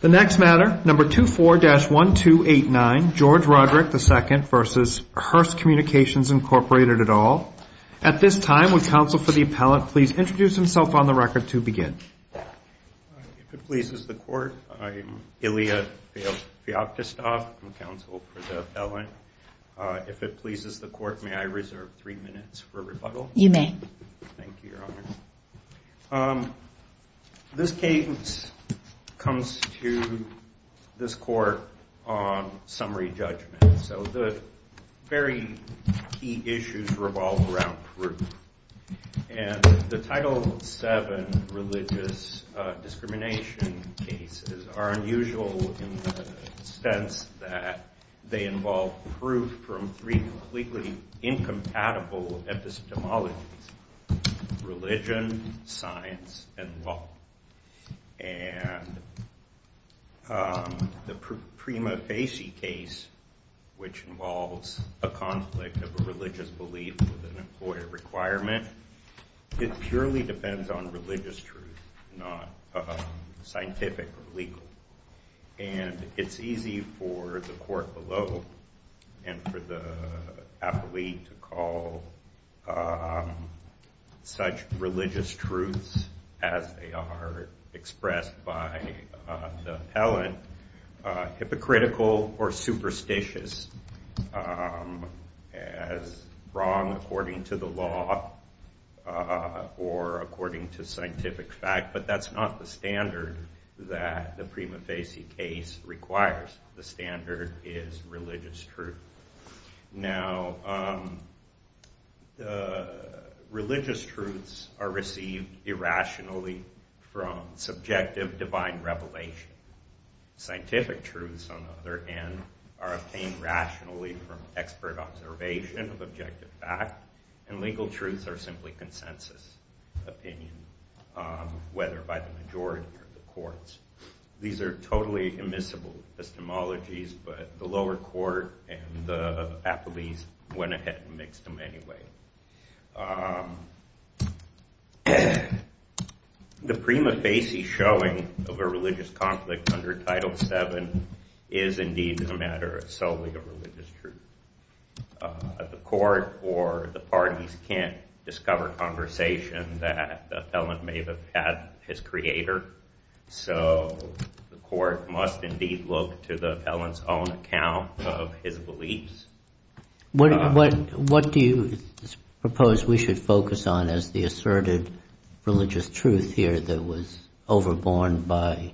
The next matter, No. 24-1289, George Roderick II v. Hearst Communications, Inc., et al. At this time, would counsel for the appellant please introduce himself on the record to begin? If it pleases the Court, I'm Ilya Feoktistov. I'm counsel for the appellant. If it pleases the Court, may I reserve three minutes for rebuttal? You may. Thank you, Your Honor. This case comes to this Court on summary judgment. So the very key issues revolve around proof. And the Title VII religious discrimination cases are unusual in the sense that they involve proof from three completely incompatible epistemologies. Religion, science, and law. And the Prima Facie case, which involves a conflict of a religious belief with an employer requirement, it purely depends on religious truth, not scientific or legal. And it's easy for the Court below and for the appellee to call such religious truths, as they are expressed by the appellant, hypocritical or superstitious, as wrong according to the law or according to scientific fact. But that's not the standard that the Prima Facie case requires. The standard is religious truth. Now, religious truths are received irrationally from subjective divine revelation. Scientific truths, on the other hand, are obtained rationally from expert observation of objective fact. And legal truths are simply consensus opinion, whether by the majority or the courts. These are totally immiscible epistemologies, but the lower court and the appellees went ahead and mixed them anyway. The Prima Facie showing of a religious conflict under Title VII is indeed a matter solely of religious truth. The court or the parties can't discover conversation that the appellant may have had his creator. So the court must indeed look to the appellant's own account of his beliefs. What do you propose we should focus on as the asserted religious truth here that was overborne by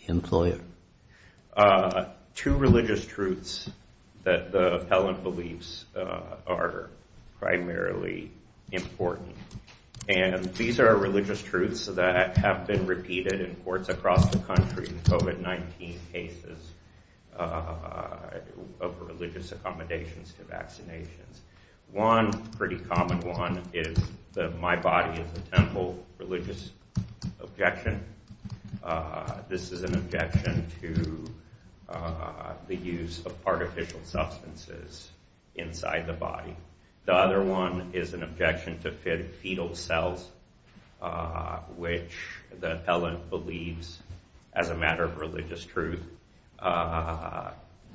the employer? Two religious truths that the appellant believes are primarily important. And these are religious truths that have been repeated in courts across the country, COVID-19 cases of religious accommodations to vaccinations. One pretty common one is that my body is a temple religious objection. This is an objection to the use of artificial substances inside the body. The other one is an objection to fetal cells, which the appellant believes, as a matter of religious truth,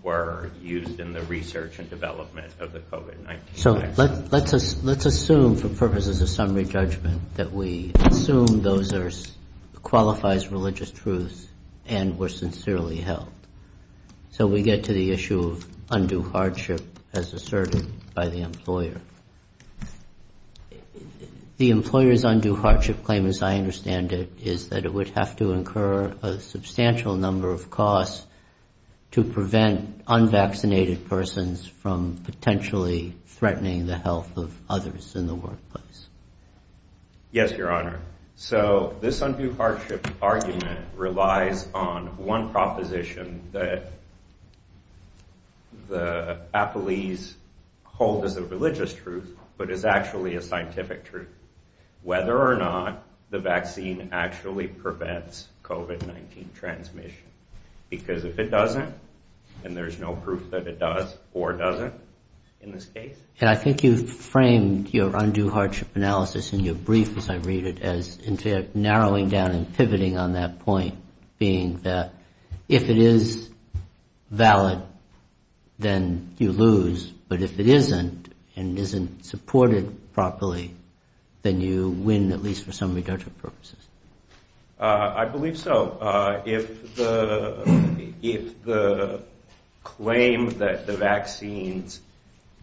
were used in the research and development of the COVID-19 case. So let's assume for purposes of summary judgment that we assume those are qualifies religious truths and were sincerely held. So we get to the issue of undue hardship as asserted by the employer. The employer's undue hardship claim, as I understand it, is that it would have to incur a substantial number of costs to prevent unvaccinated persons from potentially threatening the health of others in the workplace. Yes, Your Honor. So this undue hardship argument relies on one proposition that the appellees hold as a religious truth, but is actually a scientific truth, whether or not the vaccine actually prevents COVID-19 transmission. Because if it doesn't, then there's no proof that it does or doesn't in this case. And I think you've framed your undue hardship analysis in your brief, as I read it, as narrowing down and pivoting on that point, being that if it is valid, then you lose. But if it isn't and isn't supported properly, then you win, at least for summary judgment purposes. I believe so. If the claim that the vaccines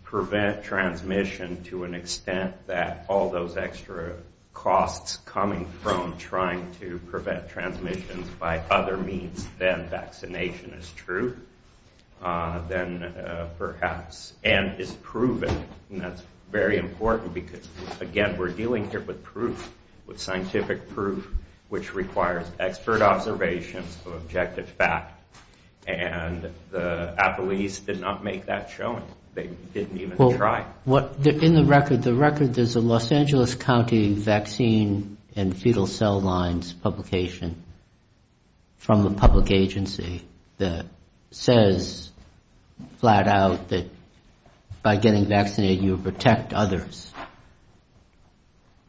prevent transmission to an extent that all those extra costs coming from trying to prevent transmissions by other means than vaccination is true, then perhaps. And is proven. And that's very important because, again, we're dealing here with proof, with scientific proof, which requires expert observations of objective fact. And the appellees did not make that showing. They didn't even try. In the record, there's a Los Angeles County vaccine and fetal cell lines publication from a public agency that says flat out that by getting vaccinated, you protect others.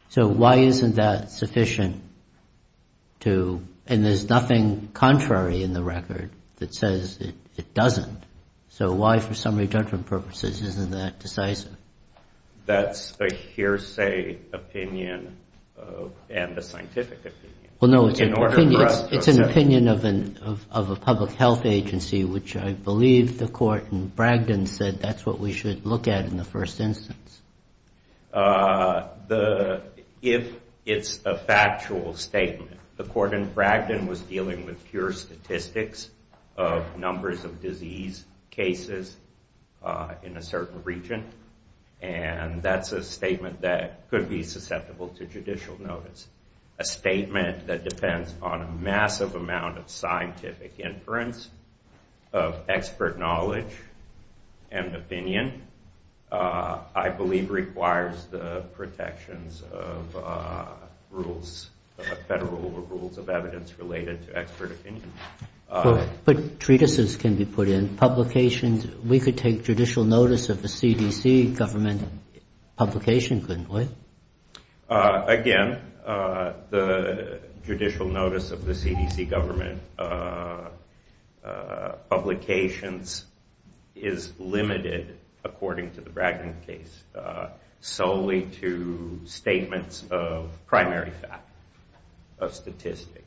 So why isn't that sufficient? And there's nothing contrary in the record that says it doesn't. So why, for summary judgment purposes, isn't that decisive? That's a hearsay opinion and a scientific opinion. It's an opinion of a public health agency, which I believe the court in Bragdon said that's what we should look at in the first instance. If it's a factual statement, the court in Bragdon was dealing with pure statistics of numbers of disease cases in a certain region. And that's a statement that could be susceptible to judicial notice. A statement that depends on a massive amount of scientific inference, of expert knowledge and opinion, I believe requires the protections of rules, federal rules of evidence related to expert opinion. But treatises can be put in, publications. We could take judicial notice of the CDC government publication, couldn't we? Again, the judicial notice of the CDC government publications is limited, according to the Bragdon case, solely to statements of primary fact, of statistics.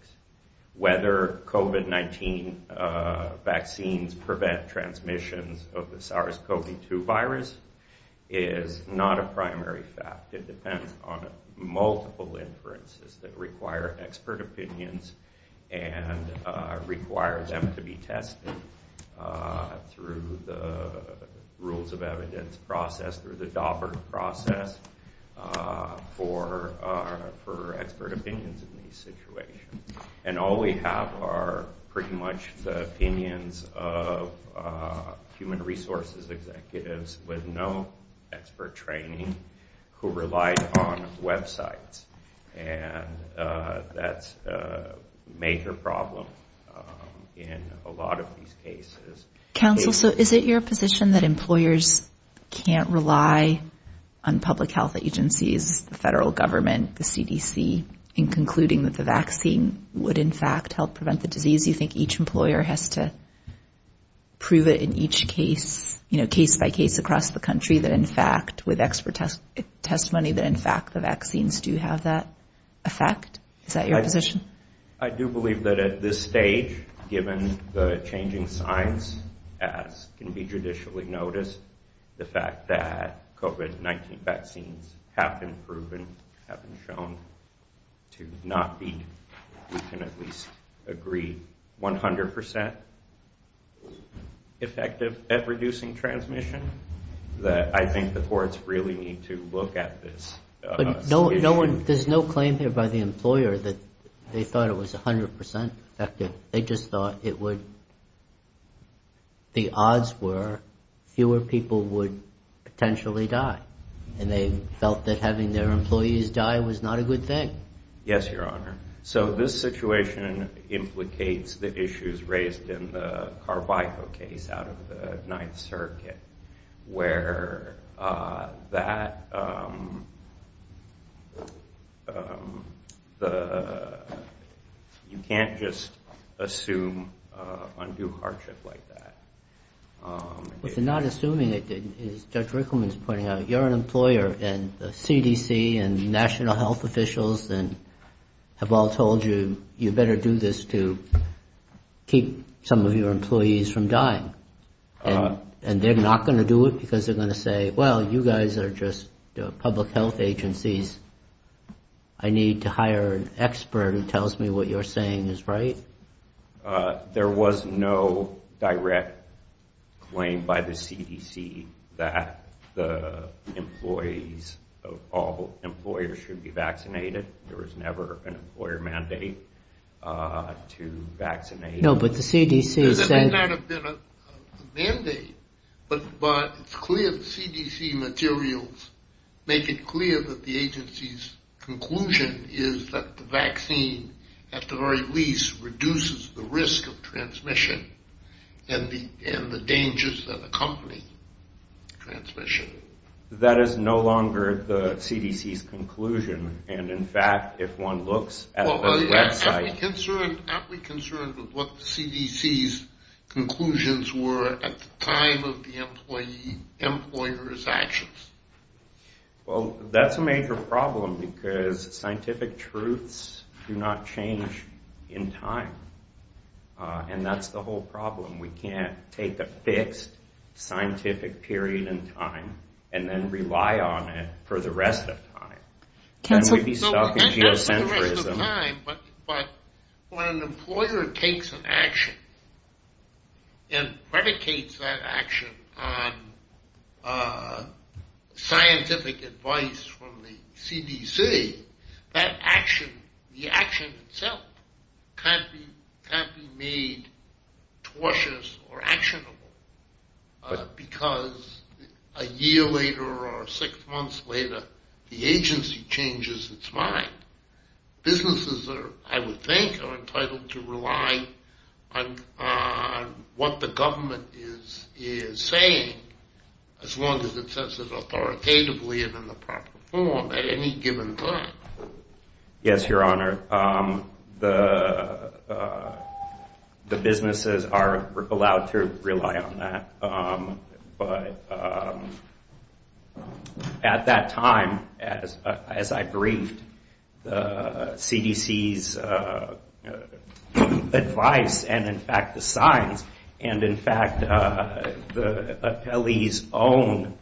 Whether COVID-19 vaccines prevent transmissions of the SARS-CoV-2 virus is not a primary fact. It depends on multiple inferences that require expert opinions and require them to be tested through the rules of evidence process, through the Daubert process for expert opinions in these situations. And all we have are pretty much the opinions of human resources executives with no expert training who relied on websites. And that's a major problem in a lot of these cases. Counsel, so is it your position that employers can't rely on public health agencies, the federal government, the CDC, in concluding that the vaccine would in fact help prevent the disease? You think each employer has to prove it in each case, you know, case by case across the country, that in fact with expert testimony that in fact the vaccines do have that effect? Is that your position? I do believe that at this stage, given the changing science, as can be judicially noticed, the fact that COVID-19 vaccines have been proven, have been shown to not be, we can at least agree, 100% effective at reducing transmission, that I think the courts really need to look at this. But there's no claim here by the employer that they thought it was 100% effective. They just thought it would, the odds were fewer people would potentially die. And they felt that having their employees die was not a good thing. Yes, Your Honor. So this situation implicates the issues raised in the Carvico case out of the Ninth Circuit, where that, you can't just assume undue hardship like that. If you're not assuming it, as Judge Rickleman is pointing out, you're an employer, and the CDC and national health officials have all told you, you better do this to keep some of your employees from dying. And they're not going to do it because they're going to say, well, you guys are just public health agencies. I need to hire an expert who tells me what you're saying is right. There was no direct claim by the CDC that the employees, all employers should be vaccinated. There was never an employer mandate to vaccinate. No, but the CDC said. There may not have been a mandate, but it's clear the CDC materials make it clear that the agency's conclusion is that the vaccine, at the very least, reduces the risk of transmission and the dangers that accompany transmission. That is no longer the CDC's conclusion. And, in fact, if one looks at the website. Well, aren't we concerned with what the CDC's conclusions were at the time of the employer's actions? Well, that's a major problem because scientific truths do not change in time. And that's the whole problem. We can't take a fixed scientific period in time and then rely on it for the rest of time. And we'd be stuck in geocentrism. But when an employer takes an action and predicates that action on scientific advice from the CDC, that action, the action itself, can't be made tortuous or actionable because a year later or six months later, the agency changes its mind. Businesses, I would think, are entitled to rely on what the government is saying, as long as it says it authoritatively and in the proper form at any given time. Yes, Your Honor. The businesses are allowed to rely on that. But at that time, as I briefed, the CDC's advice and, in fact, the signs, and, in fact, the appellee's own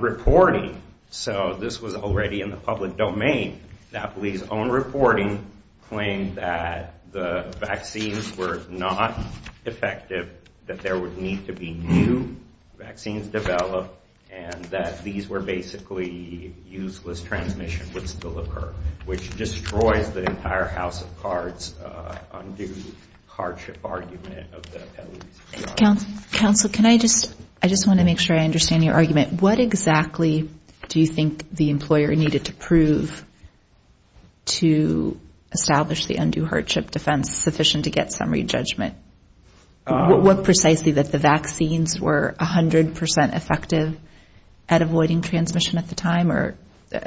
reporting. So this was already in the public domain. The appellee's own reporting claimed that the vaccines were not effective, that there would need to be new vaccines developed, and that these were basically useless transmission would still occur, which destroys the entire House of Cards undue hardship argument of the appellees. Counsel, can I just, I just want to make sure I understand your argument. What exactly do you think the employer needed to prove to establish the undue hardship defense sufficient to get summary judgment? What precisely that the vaccines were 100% effective at avoiding transmission at the time, or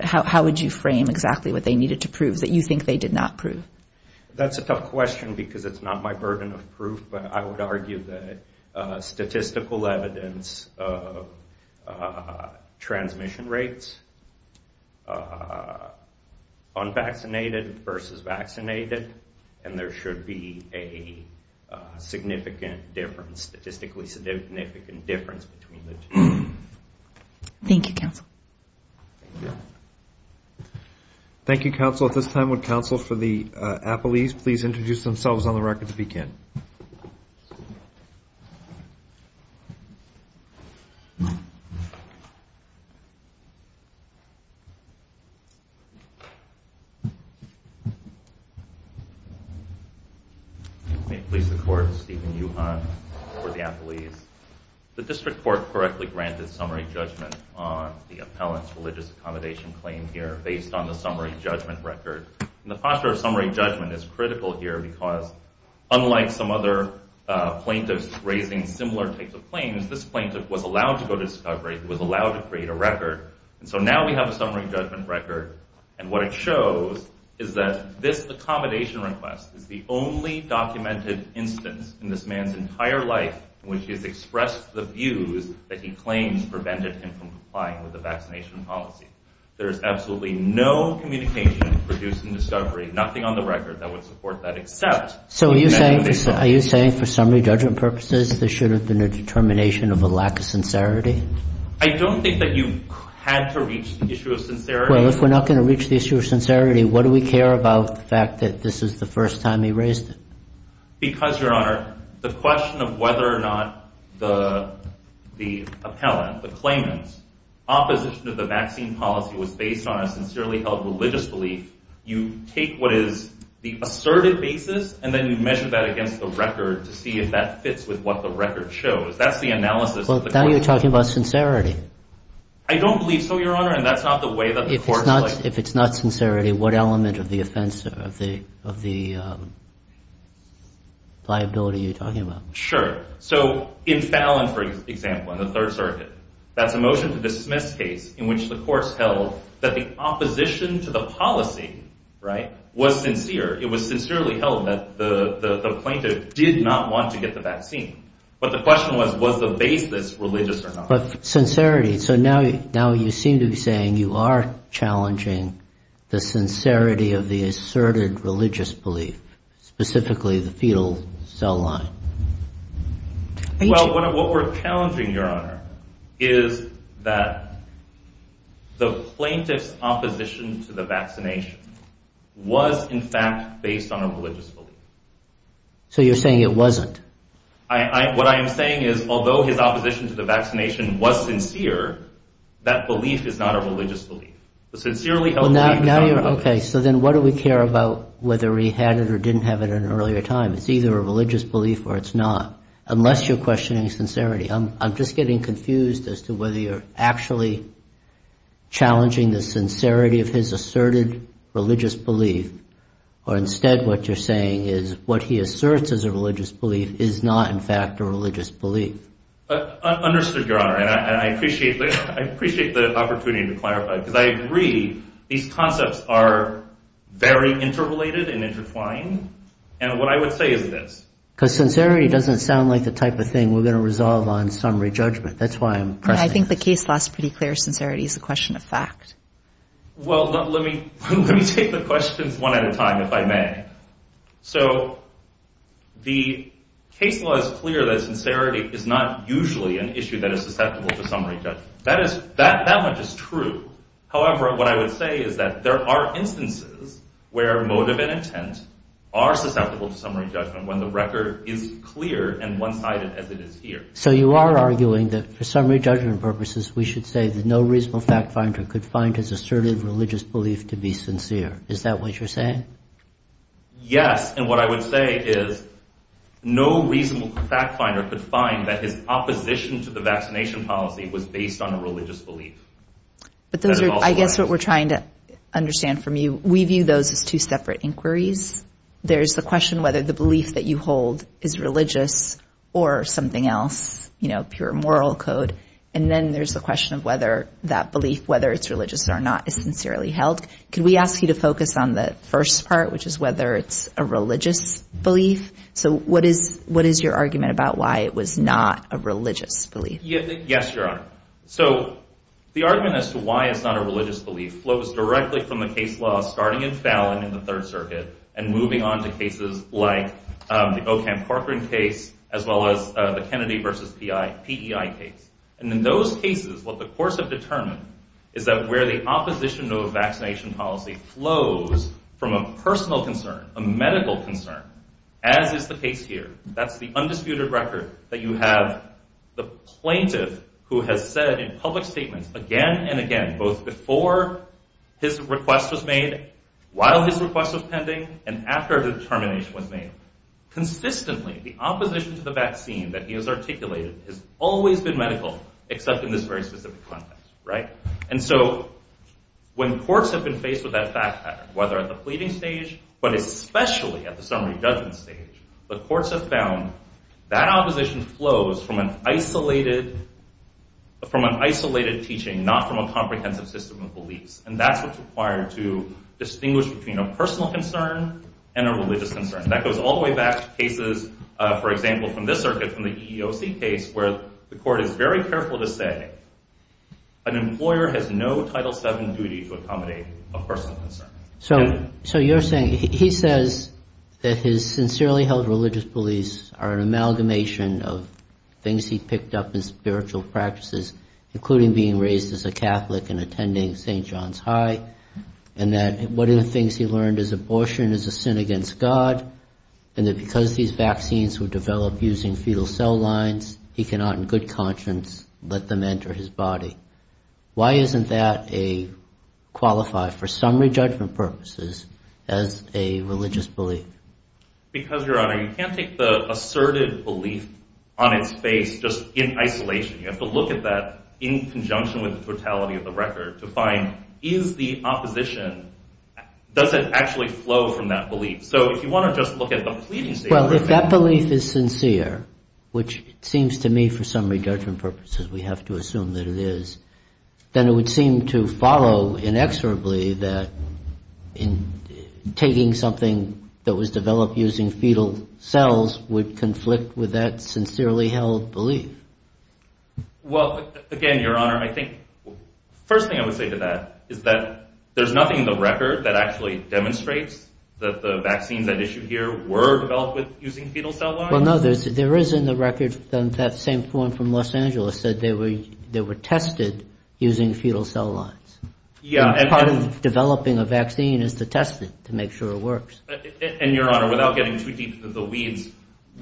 how would you frame exactly what they needed to prove that you think they did not prove? That's a tough question because it's not my burden of proof, but I would argue that statistical evidence of transmission rates, unvaccinated versus vaccinated, and there should be a significant difference, statistically significant difference between the two. Thank you, Counsel. Thank you, Counsel. At this time, would counsel for the appellees please introduce themselves on the record to begin. May it please the Court, Stephen Juhant for the appellees. The district court correctly granted summary judgment on the appellant's religious accommodation claim here based on the summary judgment record. And the posture of summary judgment is critical here because, unlike some other plaintiffs raising similar types of claims, this plaintiff was allowed to go to discovery. He was allowed to create a record. And so now we have a summary judgment record, and what it shows is that this accommodation request is the only documented instance in this man's entire life in which he has expressed the views that he claims prevented him from complying with the vaccination policy. There is absolutely no communication produced in discovery, nothing on the record that would support that, except the fact that he did. So are you saying for summary judgment purposes, this should have been a determination of a lack of sincerity? I don't think that you had to reach the issue of sincerity. Well, if we're not going to reach the issue of sincerity, what do we care about the fact that this is the first time he raised it? Because, Your Honor, the question of whether or not the appellant, the claimant's, opposition to the vaccine policy was based on a sincerely held religious belief, you take what is the asserted basis, and then you measure that against the record to see if that fits with what the record shows. That's the analysis of the court. Well, now you're talking about sincerity. I don't believe so, Your Honor, and that's not the way that the court is like. If it's not sincerity, what element of the offense, of the liability are you talking about? Sure. So in Fallon, for example, in the Third Circuit, that's a motion to dismiss case in which the course held that the opposition to the policy was sincere. It was sincerely held that the plaintiff did not want to get the vaccine. But the question was, was the basis religious or not? But sincerity. So now you seem to be saying you are challenging the sincerity of the asserted religious belief, specifically the fetal cell line. Well, what we're challenging, Your Honor, is that the plaintiff's opposition to the vaccination was, in fact, based on a religious belief. So you're saying it wasn't? What I am saying is, although his opposition to the vaccination was sincere, that belief is not a religious belief. Okay. So then what do we care about whether he had it or didn't have it at an earlier time? It's either a religious belief or it's not, unless you're questioning sincerity. I'm just getting confused as to whether you're actually challenging the sincerity of his asserted religious belief, or instead what you're saying is what he asserts as a religious belief is not, in fact, a religious belief. Understood, Your Honor. And I appreciate the opportunity to clarify, because I agree these concepts are very interrelated and intertwined. And what I would say is this. Because sincerity doesn't sound like the type of thing we're going to resolve on summary judgment. That's why I'm pressing this. I think the case law is pretty clear. Sincerity is a question of fact. Well, let me take the questions one at a time, if I may. So the case law is clear that sincerity is not usually an issue that is susceptible to summary judgment. That much is true. However, what I would say is that there are instances where motive and intent are susceptible to summary judgment, when the record is clear and one-sided as it is here. So you are arguing that for summary judgment purposes, we should say that no reasonable fact finder could find his assertive religious belief to be sincere. Is that what you're saying? Yes. And what I would say is no reasonable fact finder could find that his opposition to the vaccination policy was based on a religious belief. But those are, I guess, what we're trying to understand from you. We view those as two separate inquiries. There's the question whether the belief that you hold is religious or something else, you know, pure moral code. And then there's the question of whether that belief, whether it's religious or not, is sincerely held. Could we ask you to focus on the first part, which is whether it's a religious belief? So what is your argument about why it was not a religious belief? Yes, Your Honor. So the argument as to why it's not a religious belief flows directly from the case law starting in Fallon in the Third Circuit and moving on to cases like the Ocamp-Corcoran case as well as the Kennedy versus PEI case. And in those cases, what the courts have determined is that where the opposition to a vaccination policy flows from a personal concern, a medical concern, as is the case here, that's the undisputed record that you have the plaintiff who has said in public statements again and again, both before his request was made, while his request was pending, and after the determination was made, consistently the opposition to the vaccine that he has articulated has always been medical, except in this very specific context. And so when courts have been faced with that fact pattern, whether at the pleading stage, but especially at the summary judgment stage, the courts have found that opposition flows from an isolated teaching, not from a comprehensive system of beliefs. And that's what's required to distinguish between a personal concern and a religious concern. That goes all the way back to cases, for example, from this circuit, from the EEOC case, where the court is very careful to say an employer has no Title VII duty to accommodate a personal concern. So you're saying he says that his sincerely held religious beliefs are an amalgamation of things he picked up in spiritual practices, including being raised as a Catholic and attending St. John's High, and that one of the things he learned is abortion is a sin against God, and that because these vaccines were developed using fetal cell lines, he cannot in good conscience let them enter his body. Why isn't that a qualified, for summary judgment purposes, as a religious belief? Because, Your Honor, you can't take the asserted belief on its face just in isolation. You have to look at that in conjunction with the totality of the record to find, is the opposition, does it actually flow from that belief? So if you want to just look at the pleading state of religion. Well, if that belief is sincere, which it seems to me, for summary judgment purposes, we have to assume that it is, then it would seem to follow inexorably that taking something that was developed using fetal cells would conflict with that sincerely held belief. Well, again, Your Honor, I think the first thing I would say to that is that there's nothing in the record that actually demonstrates that the vaccines at issue here were developed using fetal cell lines? Well, no, there is in the record that same form from Los Angeles that they were tested using fetal cell lines. Yeah. Part of developing a vaccine is to test it to make sure it works. And, Your Honor, without getting too deep into the weeds,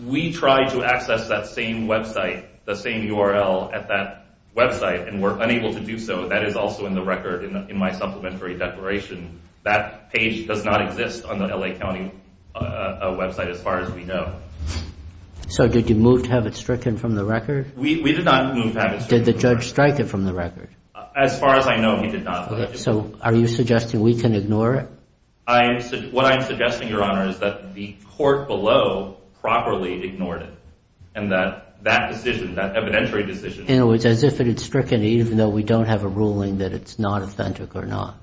we tried to access that same website, the same URL at that website, and were unable to do so. That is also in the record in my supplementary declaration. That page does not exist on the L.A. County website as far as we know. So did you move to have it stricken from the record? We did not move to have it stricken from the record. Did the judge strike it from the record? As far as I know, he did not. So are you suggesting we can ignore it? What I am suggesting, Your Honor, is that the court below properly ignored it, and that that decision, that evidentiary decision— In other words, as if it had stricken it, even though we don't have a ruling that it's not authentic or not.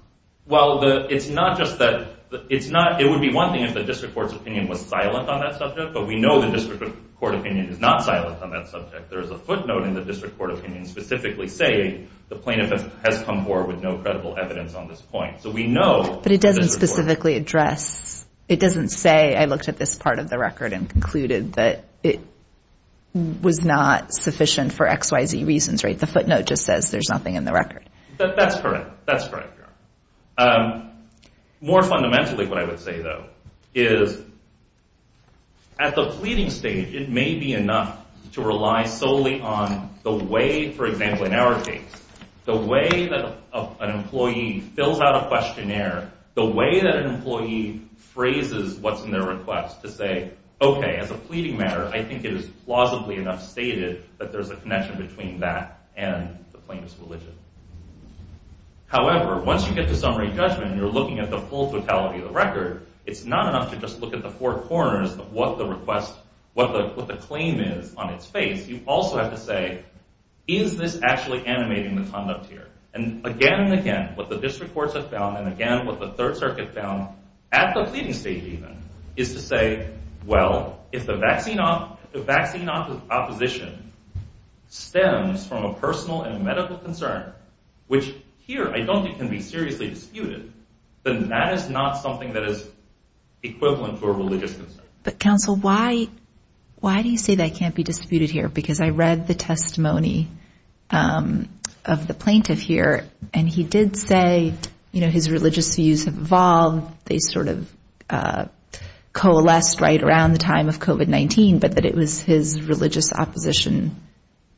Well, it's not just that—it would be one thing if the district court's opinion was silent on that subject, but we know the district court opinion is not silent on that subject. There is a footnote in the district court opinion specifically saying the plaintiff has come forward with no credible evidence on this point. So we know— But it doesn't specifically address—it doesn't say, I looked at this part of the record and concluded that it was not sufficient for XYZ reasons, right? The footnote just says there's nothing in the record. That's correct. That's correct, Your Honor. More fundamentally, what I would say, though, is at the pleading stage, it may be enough to rely solely on the way, for example, in our case, the way that an employee fills out a questionnaire, the way that an employee phrases what's in their request to say, okay, as a pleading matter, I think it is plausibly enough stated that there's a connection between that and the plaintiff's religion. However, once you get to summary judgment and you're looking at the full totality of the record, it's not enough to just look at the four corners of what the request—what the claim is on its face. You also have to say, is this actually animating the conduct here? And again and again, what the district courts have found and again what the Third Circuit found, at the pleading stage even, is to say, well, if the vaccine opposition stems from a personal and medical concern, which here I don't think can be seriously disputed, then that is not something that is equivalent to a religious concern. But, counsel, why do you say that can't be disputed here? Because I read the testimony of the plaintiff here, and he did say, you know, his religious views have evolved. They sort of coalesced right around the time of COVID-19, but that it was his religious opposition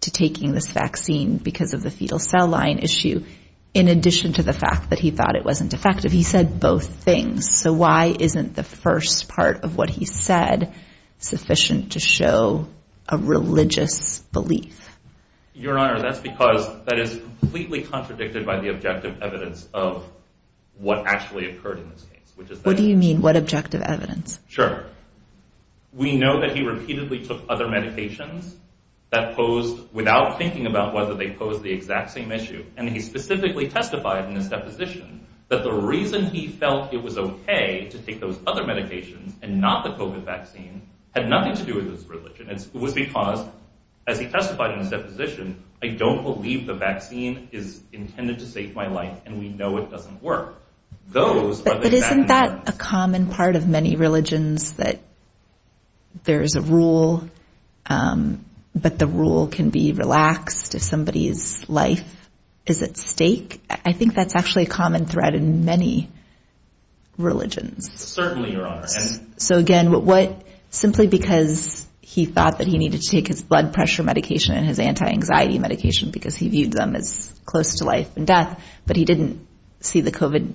to taking this vaccine because of the fetal cell line issue, in addition to the fact that he thought it wasn't effective. He said both things, so why isn't the first part of what he said sufficient to show a religious belief? Your Honor, that's because that is completely contradicted by the objective evidence of what actually occurred in this case. What do you mean, what objective evidence? Sure. We know that he repeatedly took other medications that posed, without thinking about whether they posed the exact same issue, and he specifically testified in his deposition that the reason he felt it was okay to take those other medications and not the COVID vaccine had nothing to do with his religion. It was because, as he testified in his deposition, I don't believe the vaccine is intended to save my life, and we know it doesn't work. But isn't that a common part of many religions, that there is a rule, but the rule can be relaxed if somebody's life is at stake? I think that's actually a common thread in many religions. Certainly, Your Honor. So again, simply because he thought that he needed to take his blood pressure medication and his anti-anxiety medication because he viewed them as close to life and death, but he didn't see the COVID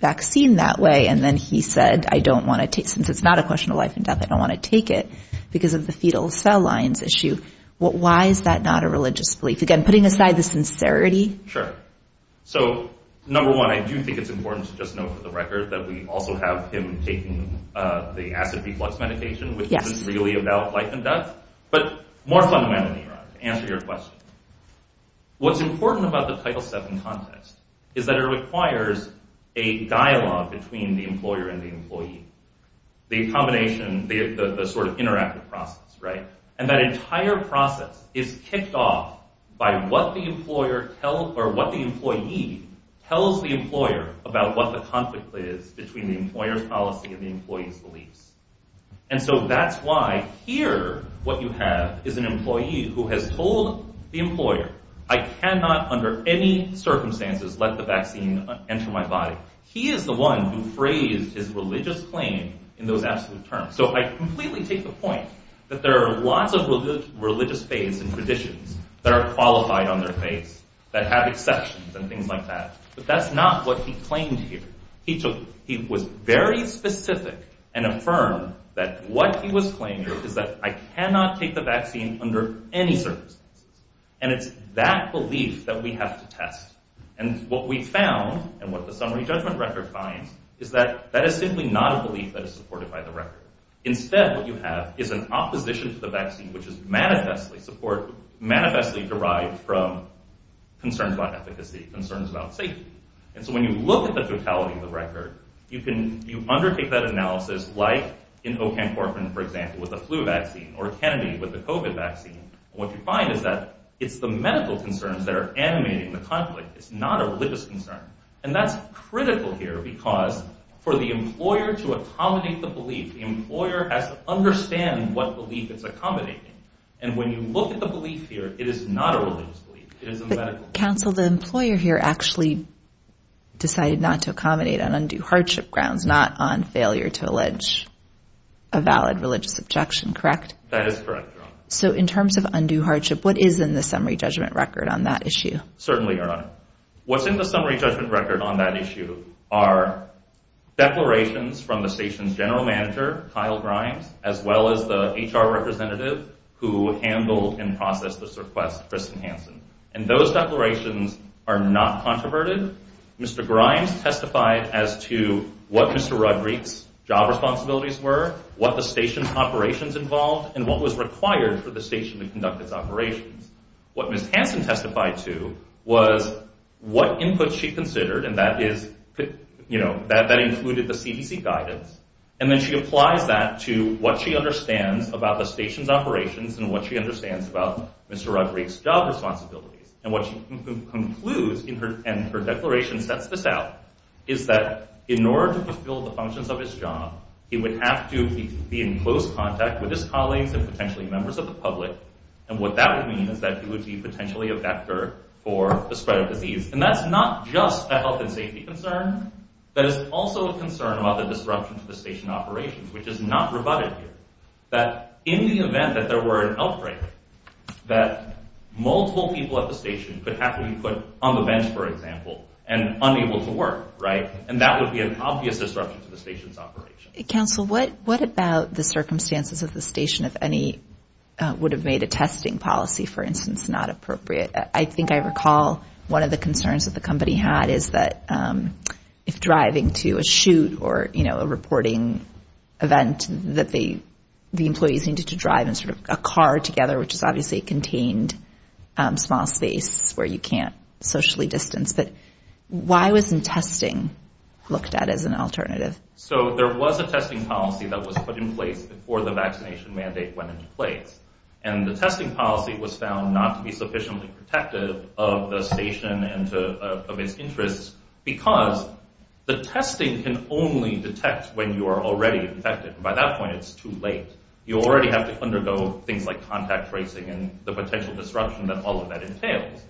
vaccine that way, and then he said, since it's not a question of life and death, I don't want to take it, because of the fetal cell lines issue. Why is that not a religious belief? Again, putting aside the sincerity. Sure. So, number one, I do think it's important to just note for the record that we also have him taking the acid reflux medication, which isn't really about life and death. But more fundamentally, Your Honor, to answer your question, what's important about the Title VII context is that it requires a dialogue between the employer and the employee. The combination, the sort of interactive process, right? And that entire process is kicked off by what the employee tells the employer about what the conflict is between the employer's policy and the employee's beliefs. And so that's why here, what you have is an employee who has told the employer, I cannot, under any circumstances, let the vaccine enter my body. He is the one who phrased his religious claim in those absolute terms. So I completely take the point that there are lots of religious faiths and traditions that are qualified on their face, that have exceptions and things like that. But that's not what he claimed here. He was very specific and affirmed that what he was claiming is that I cannot take the vaccine under any circumstances. And it's that belief that we have to test. And what we found, and what the Summary Judgment Record finds, is that that is simply not a belief that is supported by the record. Instead, what you have is an opposition to the vaccine, which is manifestly derived from concerns about efficacy, concerns about safety. And so when you look at the totality of the record, you undertake that analysis, like in Ocamcorphan, for example, with the flu vaccine, or Kennedy with the COVID vaccine. What you find is that it's the medical concerns that are animating the conflict. It's not a religious concern. And that's critical here because for the employer to accommodate the belief, the employer has to understand what belief it's accommodating. And when you look at the belief here, it is not a religious belief. It is a medical belief. Counsel, the employer here actually decided not to accommodate on undue hardship grounds, not on failure to allege a valid religious objection, correct? That is correct, Your Honor. So in terms of undue hardship, what is in the summary judgment record on that issue? Certainly, Your Honor. What's in the summary judgment record on that issue are declarations from the station's general manager, Kyle Grimes, as well as the HR representative who handled and processed this request, Kristen Hansen. And those declarations are not controverted. Mr. Grimes testified as to what Mr. Rodriguez's job responsibilities were, what the station's operations involved, and what was required for the station to conduct its operations. What Ms. Hansen testified to was what input she considered, and that included the CDC guidance. And then she applies that to what she understands about the station's operations and what she understands about Mr. Rodriguez's job responsibilities. And what she concludes in her declaration that sets this out is that in order to fulfill the functions of his job, he would have to be in close contact with his colleagues and potentially members of the public, and what that would mean is that he would be potentially a vector for the spread of disease. And that's not just a health and safety concern. That is also a concern about the disruption to the station operations, which is not rebutted here. That in the event that there were an outbreak, that multiple people at the station could have to be put on the bench, for example, and unable to work, right? And that would be an obvious disruption to the station's operations. Counsel, what about the circumstances of the station if any would have made a testing policy, for instance, not appropriate? I think I recall one of the concerns that the company had is that if driving to a shoot or, you know, a reporting event that the employees needed to drive in sort of a car together, which is obviously a contained small space where you can't socially distance. But why wasn't testing looked at as an alternative? So there was a testing policy that was put in place before the vaccination mandate went into place, and the testing policy was found not to be sufficiently protective of the station and of its interests because the testing can only detect when you are already infected. By that point, it's too late. You already have to undergo things like contact tracing and the potential disruption that all of that entails.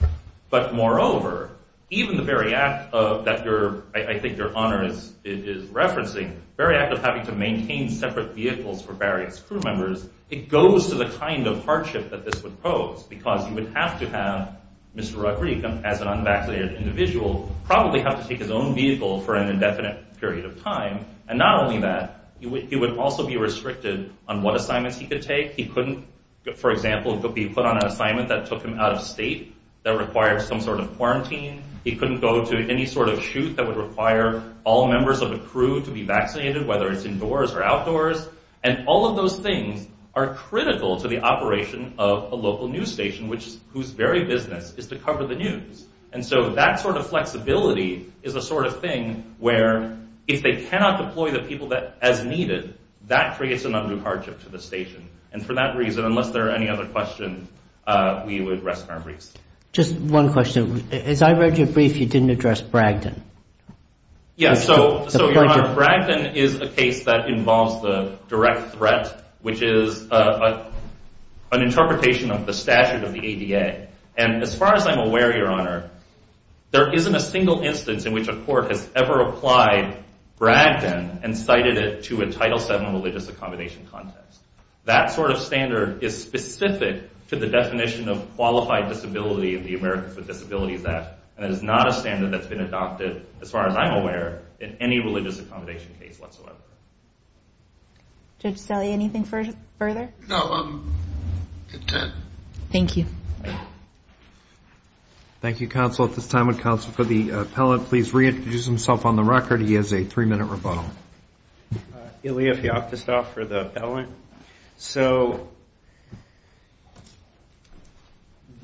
But moreover, even the very act that I think your honor is referencing, the very act of having to maintain separate vehicles for various crew members, it goes to the kind of hardship that this would pose because you would have to have Mr. Rugby, as an unvaccinated individual, probably have to take his own vehicle for an indefinite period of time. And not only that, he would also be restricted on what assignments he could take. He couldn't, for example, be put on an assignment that took him out of state that required some sort of quarantine. He couldn't go to any sort of shoot that would require all members of a crew to be vaccinated, whether it's indoors or outdoors. And all of those things are critical to the operation of a local news station, whose very business is to cover the news. And so that sort of flexibility is a sort of thing where if they cannot deploy the people as needed, that creates an undue hardship to the station. And for that reason, unless there are any other questions, we would rest our briefs. Just one question. As I read your brief, you didn't address Bragdon. Yes, so your honor, Bragdon is a case that involves the direct threat, which is an interpretation of the statute of the ADA. And as far as I'm aware, your honor, there isn't a single instance in which a court has ever applied Bragdon and cited it to a Title VII religious accommodation context. That sort of standard is specific to the definition of qualified disability in the Americans with Disabilities Act, and it is not a standard that's been adopted, as far as I'm aware, in any religious accommodation case whatsoever. Judge Stelle, anything further? No, I'm content. Thank you. Thank you, counsel. At this time, would counsel for the appellate please reintroduce himself on the record? He has a three-minute rebuttal. Ilya Feoktistov for the appellant. So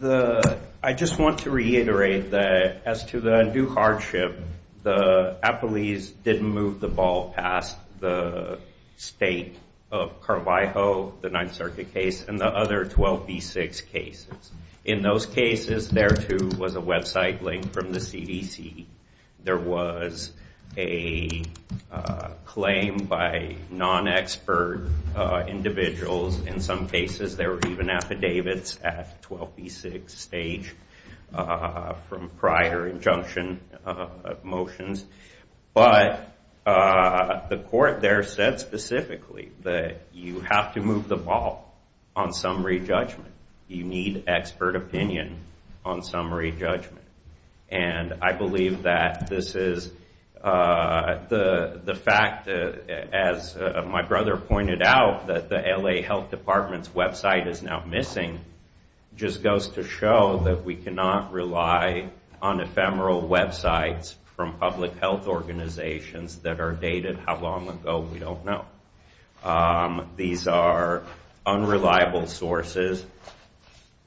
I just want to reiterate that as to the due hardship, the appellees didn't move the ball past the state of Carvajal, the Ninth Circuit case, and the other 12B6 cases. In those cases, there, too, was a website link from the CDC. There was a claim by non-expert individuals. In some cases, there were even affidavits at 12B6 stage from prior injunction motions. But the court there said specifically that you have to move the ball on summary judgment. You need expert opinion on summary judgment. And I believe that this is the fact, as my brother pointed out, that the L.A. Health Department's website is now missing just goes to show that we cannot rely on ephemeral websites from public health organizations that are dated how long ago. We don't know. These are unreliable sources.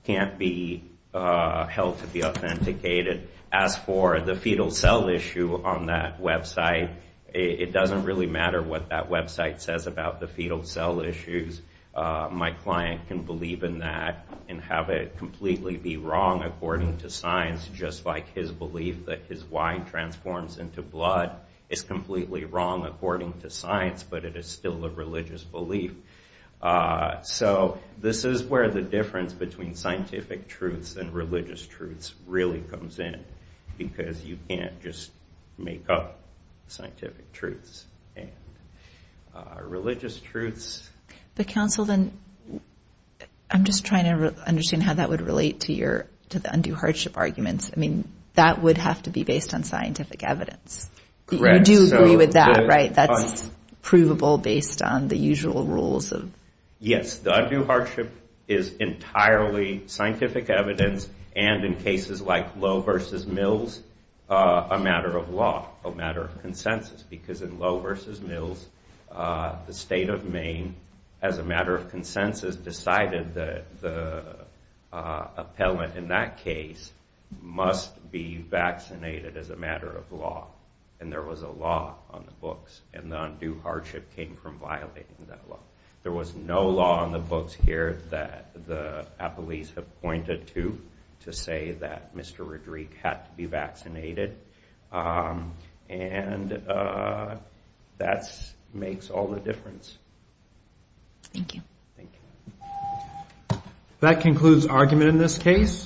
Can't be held to be authenticated. As for the fetal cell issue on that website, it doesn't really matter what that website says about the fetal cell issues. My client can believe in that and have it completely be wrong according to science, just like his belief that his Y transforms into blood is completely wrong according to science, but it is still a religious belief. So this is where the difference between scientific truths and religious truths really comes in, because you can't just make up scientific truths and religious truths. But, counsel, then I'm just trying to understand how that would relate to the undue hardship arguments. I mean, that would have to be based on scientific evidence. You do agree with that, right? That's provable based on the usual rules. Yes, the undue hardship is entirely scientific evidence, and in cases like Lowe v. Mills, a matter of law, a matter of consensus, because in Lowe v. Mills, the state of Maine, as a matter of consensus, decided that the appellant in that case must be vaccinated as a matter of law, and there was a law on the books, and the undue hardship came from violating that law. There was no law on the books here that the appellees have pointed to to say that Mr. Rodrigue had to be vaccinated, and that makes all the difference. Thank you. Thank you. That concludes argument in this case.